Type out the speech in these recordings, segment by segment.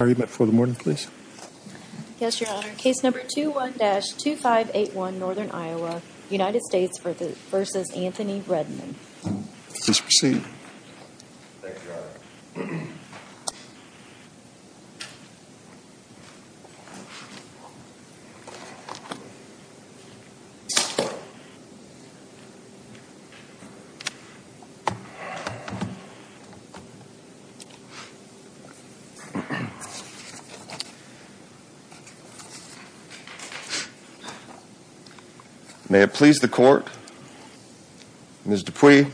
Yes, Your Honor. Case number 21-2581 Northern Iowa, United States v. Anthony Redman. Please proceed. May it please the Court. Ms. Dupuy,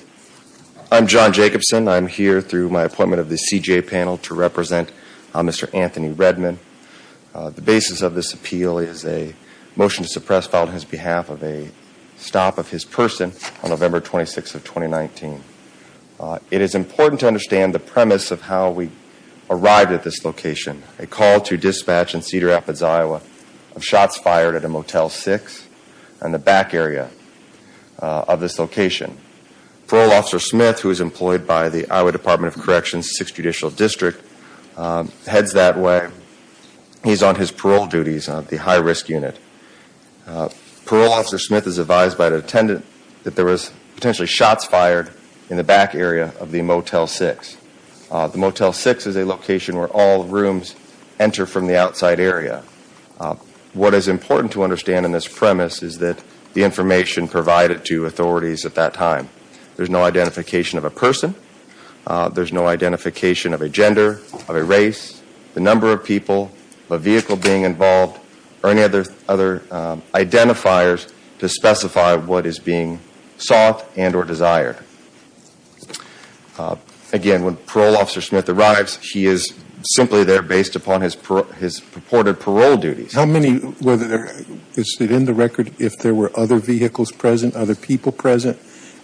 I'm John Jacobson. I'm here through my appointment of the CJA panel to represent Mr. Anthony Redman. The basis of this appeal is a motion to suppress file on his behalf of a stop of his person on November 26th of 2019. It is a call to dispatch in Cedar Rapids, Iowa of shots fired at a Motel 6 in the back area of this location. Parole Officer Smith, who is employed by the Iowa Department of Corrections 6th Judicial District, heads that way. He's on his parole duties on the high-risk unit. Parole Officer Smith is advised by the attendant that there was potentially shots fired in the back area of the Motel 6. The Motel 6 is a location where all rooms enter from the outside area. What is important to understand in this premise is that the information provided to authorities at that time. There's no identification of a person. There's no identification of a gender, of a race, the number of people, the vehicle being involved, or any other identifiers to specify what is being sought and or desired. Again, when Parole Officer Smith arrives, he is simply there based upon his purported parole duties. How many, is it in the record, if there were other vehicles present, other people present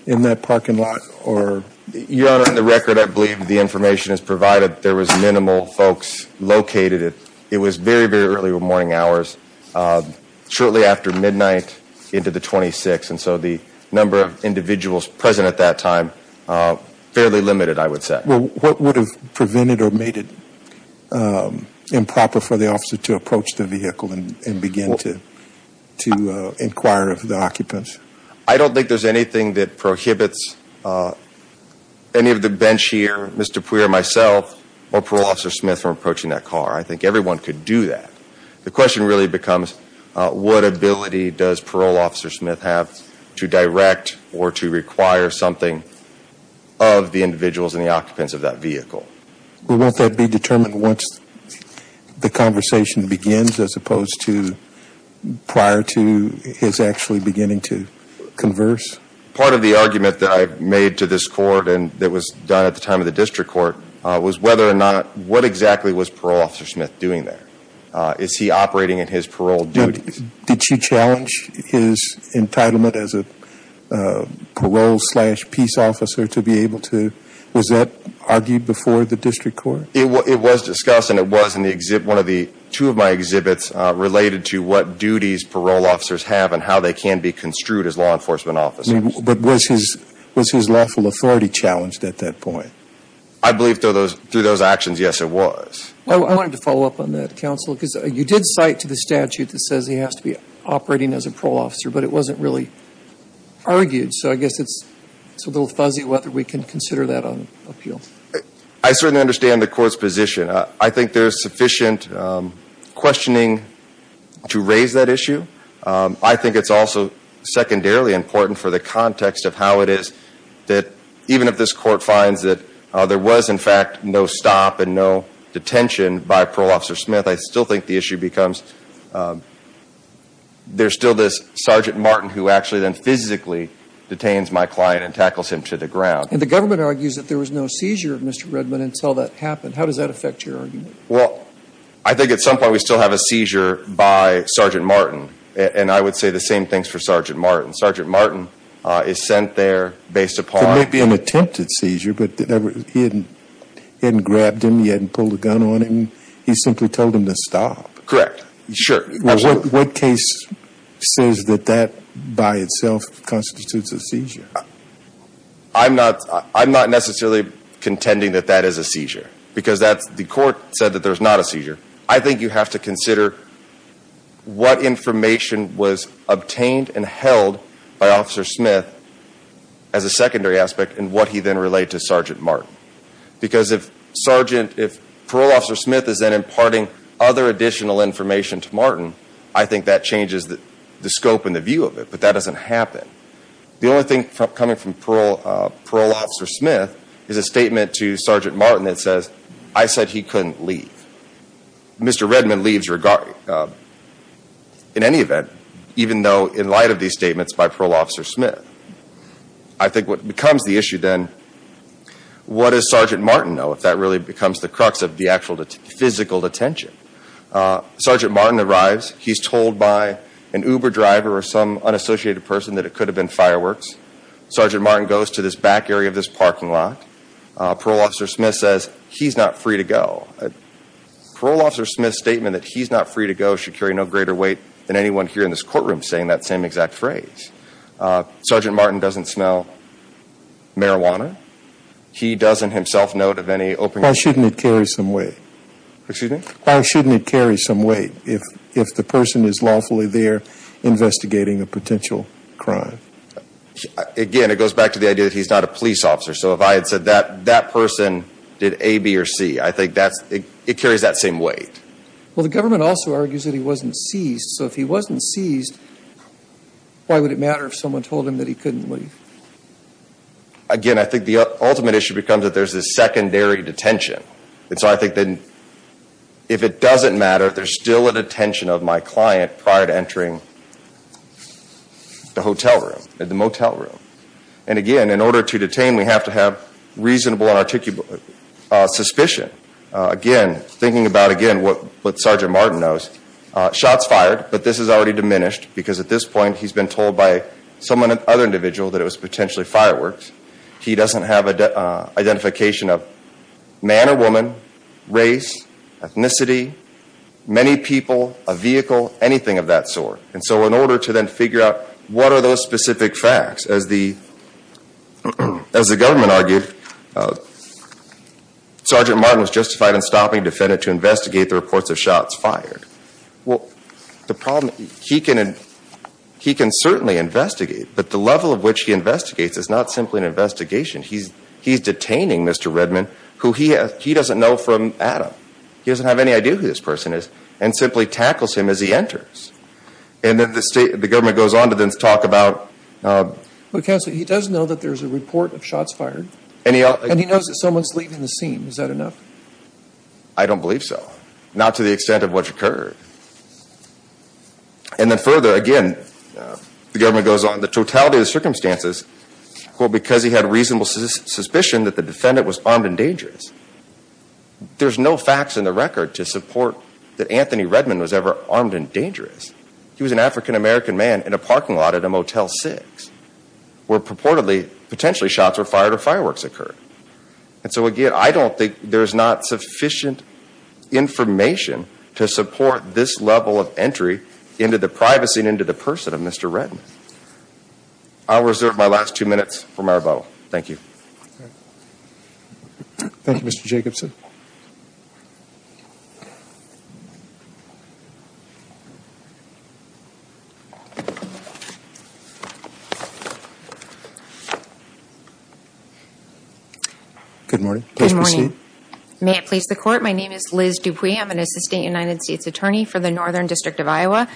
in that parking lot? Your Honor, in the record, I believe the information is provided there was minimal folks located. It was very, very early morning hours. Shortly after midnight, into the 26th, and so the number of individuals present at that time, fairly limited, I would say. Well, what would have prevented or made it improper for the officer to approach the vehicle and begin to inquire of the occupants? I don't think there's anything that prohibits any of the bench here, Mr. Puyer, myself, or Parole Officer Smith from approaching that car. I think Parole Officer Smith have to direct or to require something of the individuals and the occupants of that vehicle. Well, won't that be determined once the conversation begins, as opposed to prior to his actually beginning to converse? Part of the argument that I made to this Court, and that was done at the time of the District Court, was whether or not, what exactly was Parole Officer Smith doing there? Is he operating in his parole duties? Did she challenge his entitlement as a parole slash peace officer to be able to, was that argued before the District Court? It was discussed and it was in the exhibit, one of the, two of my exhibits related to what duties parole officers have and how they can be construed as law enforcement officers. But was his lawful authority challenged at that point? I believe through those actions, yes, it was. I wanted to follow up on that, Counsel, because you did cite to the statute that says he has to be operating as a parole officer, but it wasn't really argued. So I guess it's a little fuzzy whether we can consider that on appeal. I certainly understand the Court's position. I think there's sufficient questioning to raise that issue. I think it's also secondarily important for the context of how it is that even if this Court finds that there was in fact no stop and no detention by Parole Officer Smith, I still think the issue becomes, there's still this Sergeant Martin who actually then physically detains my client and tackles him to the ground. And the government argues that there was no seizure of Mr. Redmond until that happened. How does that affect your argument? Well, I think at some point we still have a seizure by Sergeant Martin. And I would say the same things for Sergeant Martin. Sergeant Martin is sent there based upon If it may be an attempted seizure, but he hadn't grabbed him, he hadn't pulled a gun on him, he simply told him to stop. Correct. Sure. Well, what case says that that by itself constitutes a seizure? I'm not necessarily contending that that is a seizure, because the Court said that there is not a seizure. I think you have to consider what information was obtained and held by and what he then relayed to Sergeant Martin. Because if Parole Officer Smith is then imparting other additional information to Martin, I think that changes the scope and the view of it. But that doesn't happen. The only thing coming from Parole Officer Smith is a statement to Sergeant Martin that says, I said he couldn't leave. Mr. Redmond leaves in any event, even though in light of these statements by Parole Officer Smith. I think what becomes the issue then, what does Sergeant Martin know if that really becomes the crux of the actual physical detention? Sergeant Martin arrives. He's told by an Uber driver or some unassociated person that it could have been fireworks. Sergeant Martin goes to this back area of this parking lot. Parole Officer Smith says, he's not free to go. Parole Officer Smith's statement that he's not free to go should carry no greater weight than anyone here in this courtroom saying that same exact phrase. Sergeant Martin doesn't smell marijuana. He doesn't himself note of any open... Why shouldn't it carry some weight? Excuse me? Why shouldn't it carry some weight if the person is lawfully there investigating a potential crime? Again, it goes back to the idea that he's not a police officer. So if I had said that person did A, B, or C, I think that's, it carries that same weight. Well, the government also argues that he wasn't seized. So if he wasn't seized, why would it matter if someone told him that he couldn't leave? Again, I think the ultimate issue becomes that there's this secondary detention. And so I think that if it doesn't matter, there's still a detention of my client prior to entering the hotel room, the motel room. And again, in order to detain, we have to have reasonable and articulate suspicion. Again, thinking about again what Sergeant Martin knows, shots fired, but this is already diminished because at this point he's been told by someone, another individual, that it was potentially fireworks. He doesn't have identification of man or woman, race, ethnicity, many people, a vehicle, anything of that sort. And so in order to then figure out what are those specific facts, as the government argued, Sergeant Martin was justified in stopping a defendant to investigate the reports of shots fired. Well, the problem, he can certainly investigate, but the level of which he investigates is not simply an investigation. He's detaining Mr. Redman, who he doesn't know from Adam. He doesn't have any idea who this person is, and simply tackles him as he enters. And then the state, the government goes on to then talk about... Well, Counselor, he does know that there's a report of shots fired. And he knows that someone's leaving the scene. Is that enough? I don't believe so. Not to the extent of what's occurred. And then further, again, the government goes on, the totality of the circumstances, well, because he had reasonable suspicion that the defendant was armed and dangerous. There's no facts in the record to support that Anthony Redman was ever armed and dangerous. He was an African-American man in a parking lot at a Motel 6, where purportedly, potentially shots were fired or fireworks occurred. And so again, I don't think there's not sufficient information to support this level of entry into the privacy and into the person of Mr. Redman. I'll reserve my last two minutes for my rebuttal. Thank you. Thank you, Mr. Jacobson. Good morning. Please proceed. Good morning. May it please the court, my name is Liz Dupuy. I'm an Assistant United States Attorney for the Northern District of Iowa.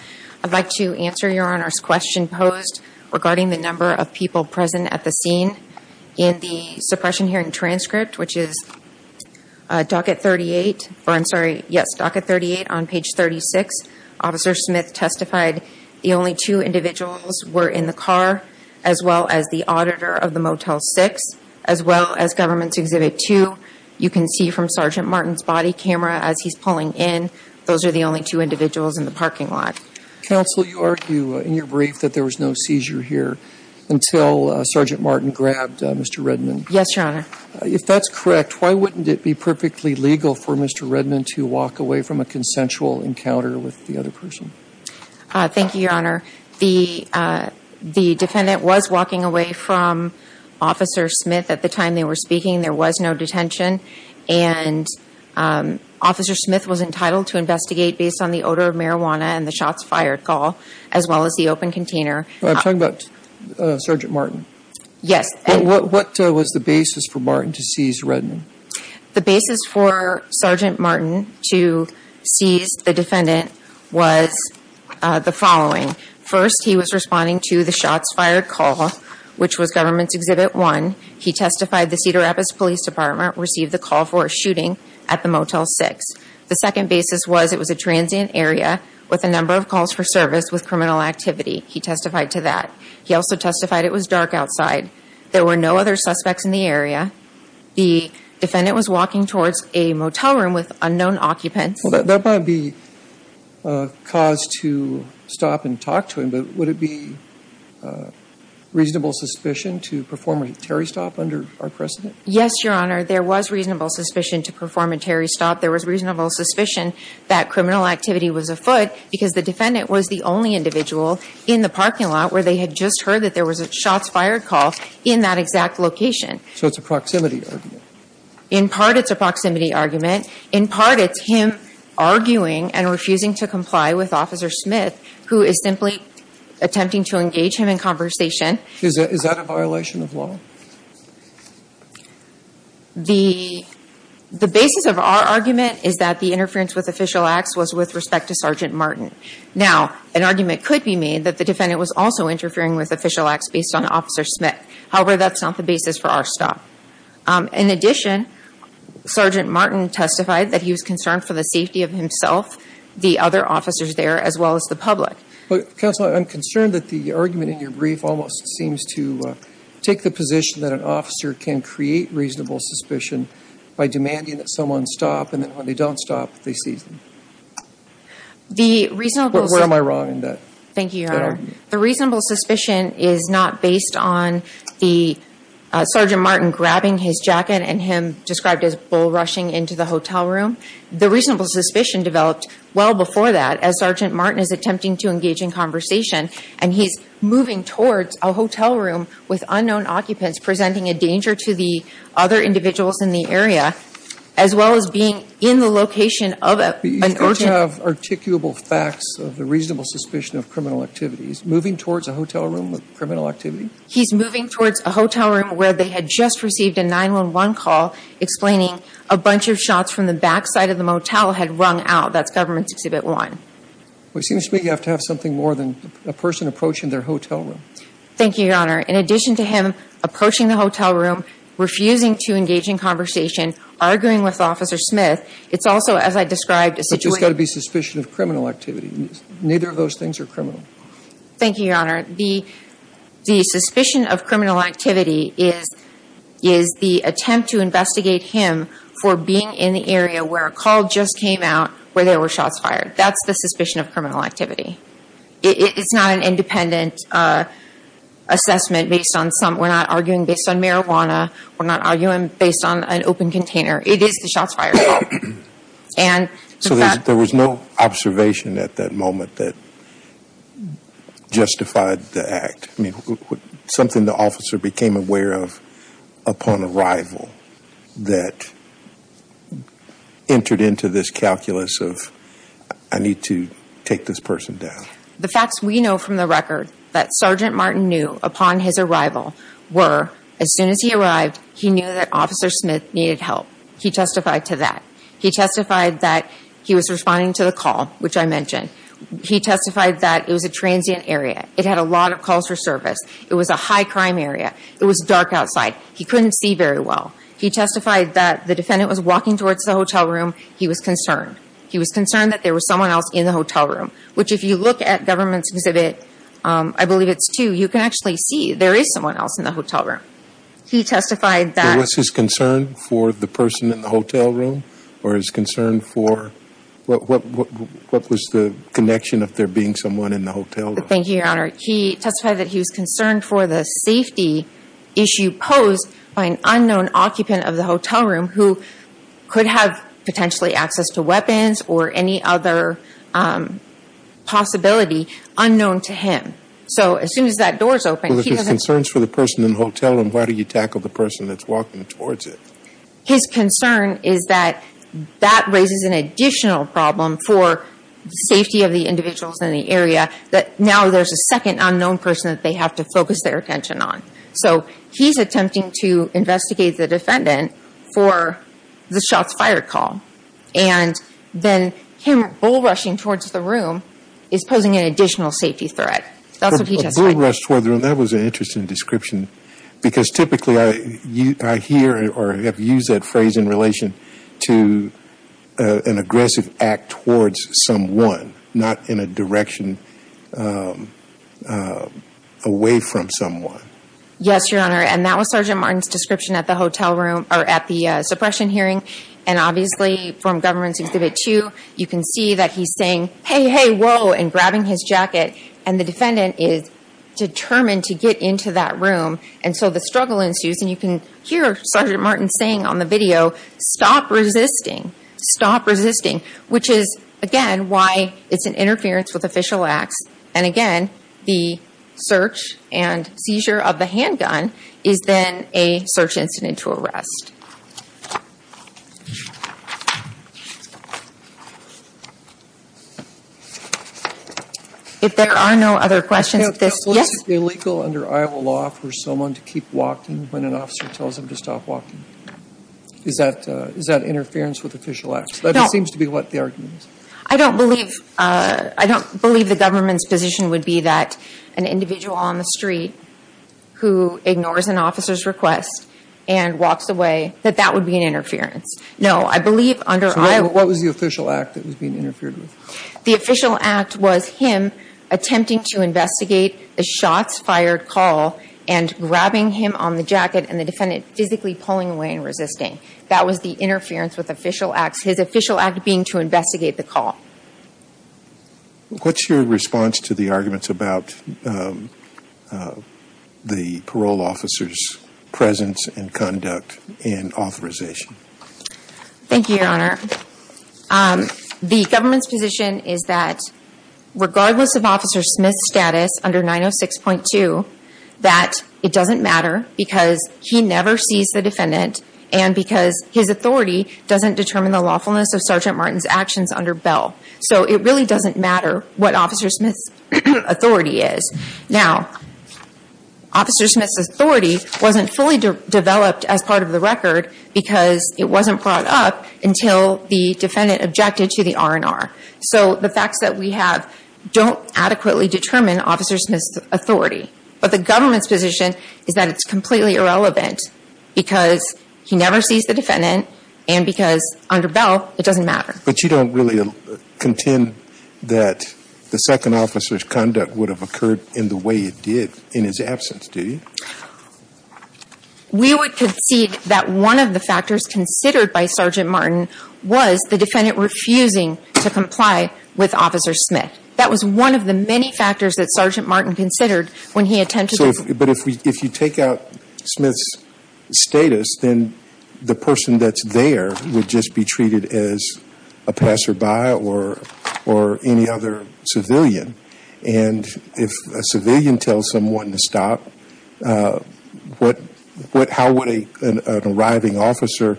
I'd like to answer Your Honor's question posed regarding the number of people present at the scene. In the suppression hearing transcript, which is docket 38, or I'm sorry, yes, docket 38 on page 36, Officer Smith testified the only two individuals were in the car, as well as the auditor of the Motel 6, as well as Government's Exhibit 2. You can see from Sergeant Martin's body camera as he's pulling in, those are the only two individuals in the parking lot. Counsel, you argue in your brief that there was no seizure here until Sergeant Martin grabbed Mr. Redman. Yes, Your Honor. If that's correct, why wouldn't it be perfectly legal for Mr. Redman to walk away from a consensual encounter with the other person? Thank you, Your Honor. The defendant was walking away from Officer Smith at the time they were speaking. There was no detention. And Officer Smith was entitled to investigate based on the odor of marijuana and the shots fired, as well as the open container. I'm talking about Sergeant Martin. Yes. What was the basis for Martin to seize Redman? The basis for Sergeant Martin to seize the defendant was the following. First, he was responding to the shots fired call, which was Government's Exhibit 1. He testified the Cedar Rapids Police Department received the call for a shooting at the Motel 6. The second basis was it was a transient area with a number of calls for service with criminal activity. He testified to that. He also testified it was dark outside. There were no other suspects in the area. The defendant was walking towards a motel room with unknown occupants. That might be cause to stop and talk to him, but would it be reasonable suspicion to perform a Terry stop under our precedent? Yes, Your Honor. There was reasonable suspicion to perform a Terry stop. There was reasonable suspicion that criminal activity was afoot because the defendant was the only individual in the parking lot where they had just heard that there was shots fired call in that exact location. So it's a proximity argument? In part, it's a proximity argument. In part, it's him arguing and refusing to comply with Officer Smith, who is simply attempting to engage him in conversation. Is that a violation of law? The basis of our argument is that the interference with official acts was with respect to Sergeant Martin. Now, an argument could be made that the defendant was also interfering with official acts based on Officer Smith. However, that's not the basis for our stop. In addition, Sergeant Martin testified that he was concerned for the safety of himself, the other officers there, as well as the public. Counselor, I'm concerned that the argument in your brief almost seems to take the position that an officer can create reasonable suspicion by demanding that someone stop, and then when they don't stop, they seize them. Where am I wrong in that? Thank you, Your Honor. The reasonable suspicion is not based on Sergeant Martin grabbing his jacket and him described as bull rushing into the hotel room. The reasonable suspicion developed well before that, as Sergeant Martin is attempting to engage in conversation, and he's moving towards a hotel room with unknown occupants, presenting a danger to the other individuals in the area, as well as being in the location of an urgent… I don't have articulable facts of the reasonable suspicion of criminal activities. Moving towards a hotel room with criminal activity? He's moving towards a hotel room where they had just received a 911 call explaining a bunch of shots from the backside of the motel had rung out. That's Government Exhibit 1. Well, it seems to me you have to have something more than a person approaching their hotel room. Thank you, Your Honor. In addition to him approaching the hotel room, refusing to engage in conversation, arguing with Officer Smith, it's also, as I described, a situation… It's got to be suspicion of criminal activity. Neither of those things are criminal. Thank you, Your Honor. The suspicion of criminal activity is the attempt to investigate him for being in the area where a call just came out where there were shots fired. That's the suspicion of criminal activity. It's not an independent assessment based on some…we're not arguing based on marijuana. We're not arguing based on an open container. It is the shots fired. So there was no observation at that moment that justified the act? I mean, something the officer became aware of upon arrival that entered into this calculus of I need to take this person down. The facts we know from the record that Sergeant Martin knew upon his arrival were as soon as he arrived, he knew that Officer Smith needed help. He testified to that. He testified that he was responding to the call, which I mentioned. He testified that it was a transient area. It had a lot of calls for service. It was a high crime area. It was dark outside. He couldn't see very well. He testified that the defendant was walking towards the hotel room. He was concerned. He was concerned that there was someone else in the hotel room, which if you look at government's exhibit, I believe it's two, you can actually see there is someone else in the hotel room. He testified that… Or is concerned for what was the connection of there being someone in the hotel room? Thank you, Your Honor. He testified that he was concerned for the safety issue posed by an unknown occupant of the hotel room who could have potentially access to weapons or any other possibility unknown to him. So as soon as that door is open, he doesn't… Well, if he's concerned for the person in the hotel room, why do you tackle the person that's walking towards it? His concern is that that raises an additional problem for the safety of the individuals in the area, that now there's a second unknown person that they have to focus their attention on. So he's attempting to investigate the defendant for the shots fired call. And then him bull rushing towards the room is posing an additional safety threat. That's what he testified. Bull rush toward the room, that was an interesting description. Because typically I hear or have used that phrase in relation to an aggressive act towards someone, not in a direction away from someone. Yes, Your Honor. And that was Sergeant Martin's description at the hotel room, or at the suppression hearing. And obviously from Government's Exhibit 2, you can see that he's saying, hey, hey, whoa, and grabbing his jacket, and the defendant is determined to get into that room. And so the struggle ensues. And you can hear Sergeant Martin saying on the video, stop resisting, stop resisting. Which is, again, why it's an interference with official acts. And again, the search and seizure of the handgun is then a search incident to arrest. If there are no other questions, yes. Is it illegal under Iowa law for someone to keep walking when an officer tells them to stop walking? Is that interference with official acts? That seems to be what the argument is. I don't believe the government's position would be that an individual on the street who ignores an officer's request and walks away, that that would be an interference. No, I believe under Iowa. What was the official act that was being interfered with? The official act was him attempting to investigate the shots fired, call, and grabbing him on the jacket and the defendant physically pulling away and resisting. That was the interference with official acts. His official act being to investigate the call. What's your response to the arguments about the parole officer's presence and conduct and authorization? Thank you, Your Honor. The government's position is that regardless of Officer Smith's status under 906.2, that it doesn't matter because he never sees the defendant and because his authority doesn't determine the lawfulness of Sergeant Martin's actions under Bell. So it really doesn't matter what Officer Smith's authority is. Now, Officer Smith's authority wasn't fully developed as part of the record because it wasn't brought up until the defendant objected to the R&R. So the facts that we have don't adequately determine Officer Smith's authority. But the government's position is that it's completely irrelevant because he never sees the defendant and because under Bell, it doesn't matter. But you don't really contend that the second officer's conduct would have occurred in the way it did in his absence, do you? We would concede that one of the factors considered by Sergeant Martin was the defendant refusing to comply with Officer Smith. That was one of the many factors that Sergeant Martin considered when he attended. But if you take out Smith's status, then the person that's there would just be treated as a passerby or any other civilian. And if a civilian tells someone to stop, how would an arriving officer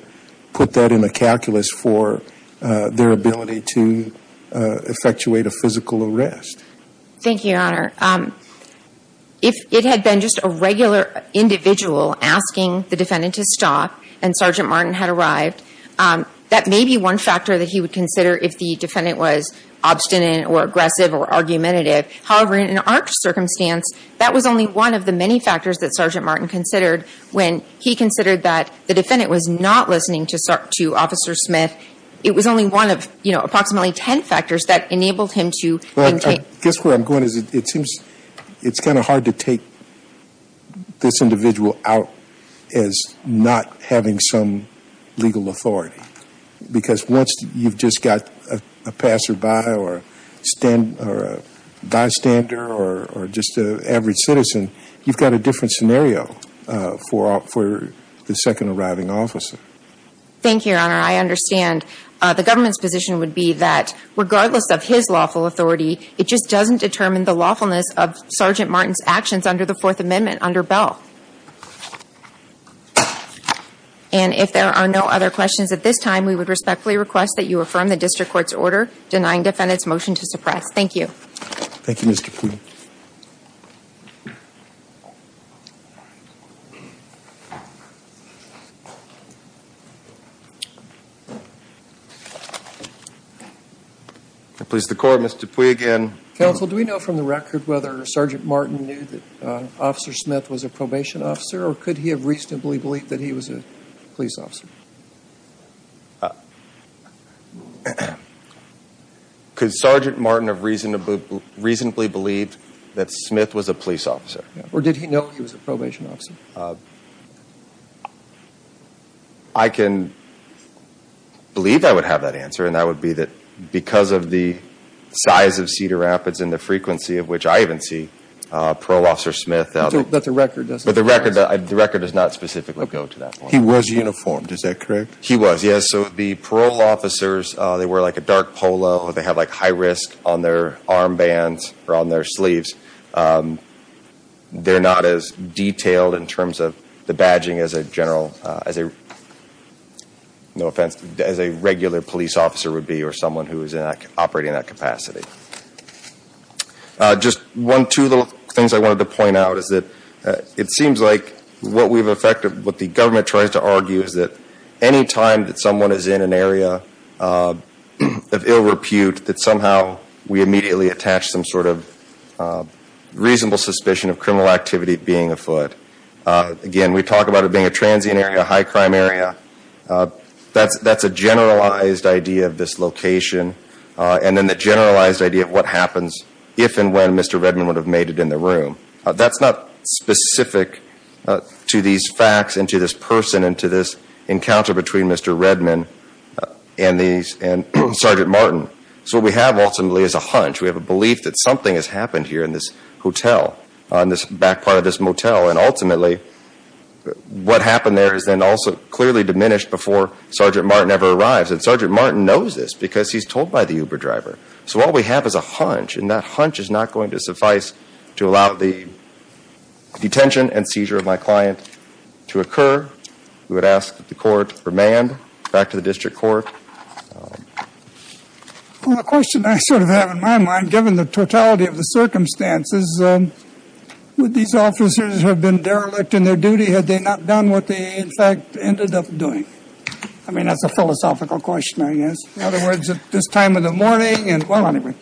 put that in a calculus for their ability to effectuate a physical arrest? Thank you, Your Honor. If it had been just a regular individual asking the defendant to stop and Sergeant Martin had arrived, that may be one factor that he would consider if the defendant was obstinate or aggressive or argumentative. However, in our circumstance, that was only one of the many factors that Sergeant Martin considered when he considered that the defendant was not listening to Officer Smith. It was only one of, you know, approximately ten factors that enabled him to maintain. I guess where I'm going is it seems it's kind of hard to take this individual out as not having some legal authority. Because once you've just got a passerby or a bystander or just an average citizen, you've got a different scenario for the second arriving officer. Thank you, Your Honor. I understand the government's position would be that regardless of his lawful authority, it just doesn't determine the lawfulness of Sergeant Martin's actions under the Fourth Amendment under Bell. And if there are no other questions at this time, we would respectfully request that you affirm the district court's order denying defendant's motion to suppress. Thank you. Thank you, Mr. Pui. I please the court, Mr. Pui again. Counsel, do we know from the record whether Sergeant Martin knew that Officer Smith was a probation officer or could he have reasonably believed that he was a police officer? Could Sergeant Martin have reasonably believed that Smith was a police officer? Or did he know he was a probation officer? I can believe I would have that answer, and that would be that because of the size of Cedar Rapids and the frequency of which I even see Pro Officer Smith. But the record doesn't. But the record does not specifically go to that point. He was uniformed. Is that correct? He was, yes. So the parole officers, they wear like a dark polo. They have like high risk on their armbands or on their sleeves. They're not as detailed in terms of the badging as a general, no offense, as a regular police officer would be or someone who is operating in that capacity. Just one, two little things I wanted to point out is that it seems like what we've affected, what the government tries to argue is that any time that someone is in an area of ill repute, that somehow we immediately attach some sort of reasonable suspicion of criminal activity being afoot. Again, we talk about it being a transient area, a high crime area. That's a generalized idea of this location. And then the generalized idea of what happens if and when Mr. Redman would have made it in the room. That's not specific to these facts and to this person and to this encounter between Mr. Redman and Sergeant Martin. So what we have ultimately is a hunch. We have a belief that something has happened here in this hotel, on this back part of this motel, and ultimately what happened there is then also clearly diminished before Sergeant Martin ever arrives. And Sergeant Martin knows this because he's told by the Uber driver. So all we have is a hunch, and that hunch is not going to suffice to allow the detention and seizure of my client to occur. We would ask that the court remand back to the district court. Well, the question I sort of have in my mind, given the totality of the circumstances, would these officers have been derelict in their duty had they not done what they in fact ended up doing? I mean, that's a philosophical question, I guess. In other words, at this time of the morning and, well, anyway.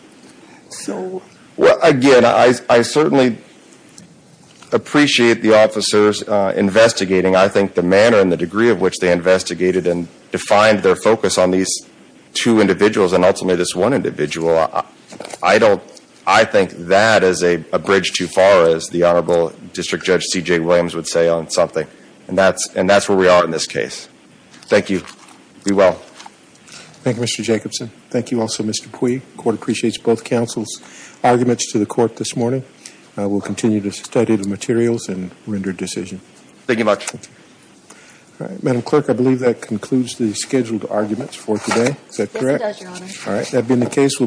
Well, again, I certainly appreciate the officers investigating. I think the manner and the degree of which they investigated and defined their focus on these two individuals, and ultimately this one individual, I think that is a bridge too far, as the Honorable District Judge C.J. Williams would say on something, and that's where we are in this case. Thank you. Be well. Thank you, Mr. Jacobson. Thank you also, Mr. Pui. The court appreciates both counsel's arguments to the court this morning. We'll continue to study the materials and render a decision. Thank you much. Thank you. All right. Madam Clerk, I believe that concludes the scheduled arguments for today. Is that correct? Yes, it does, Your Honor. All right. That being the case,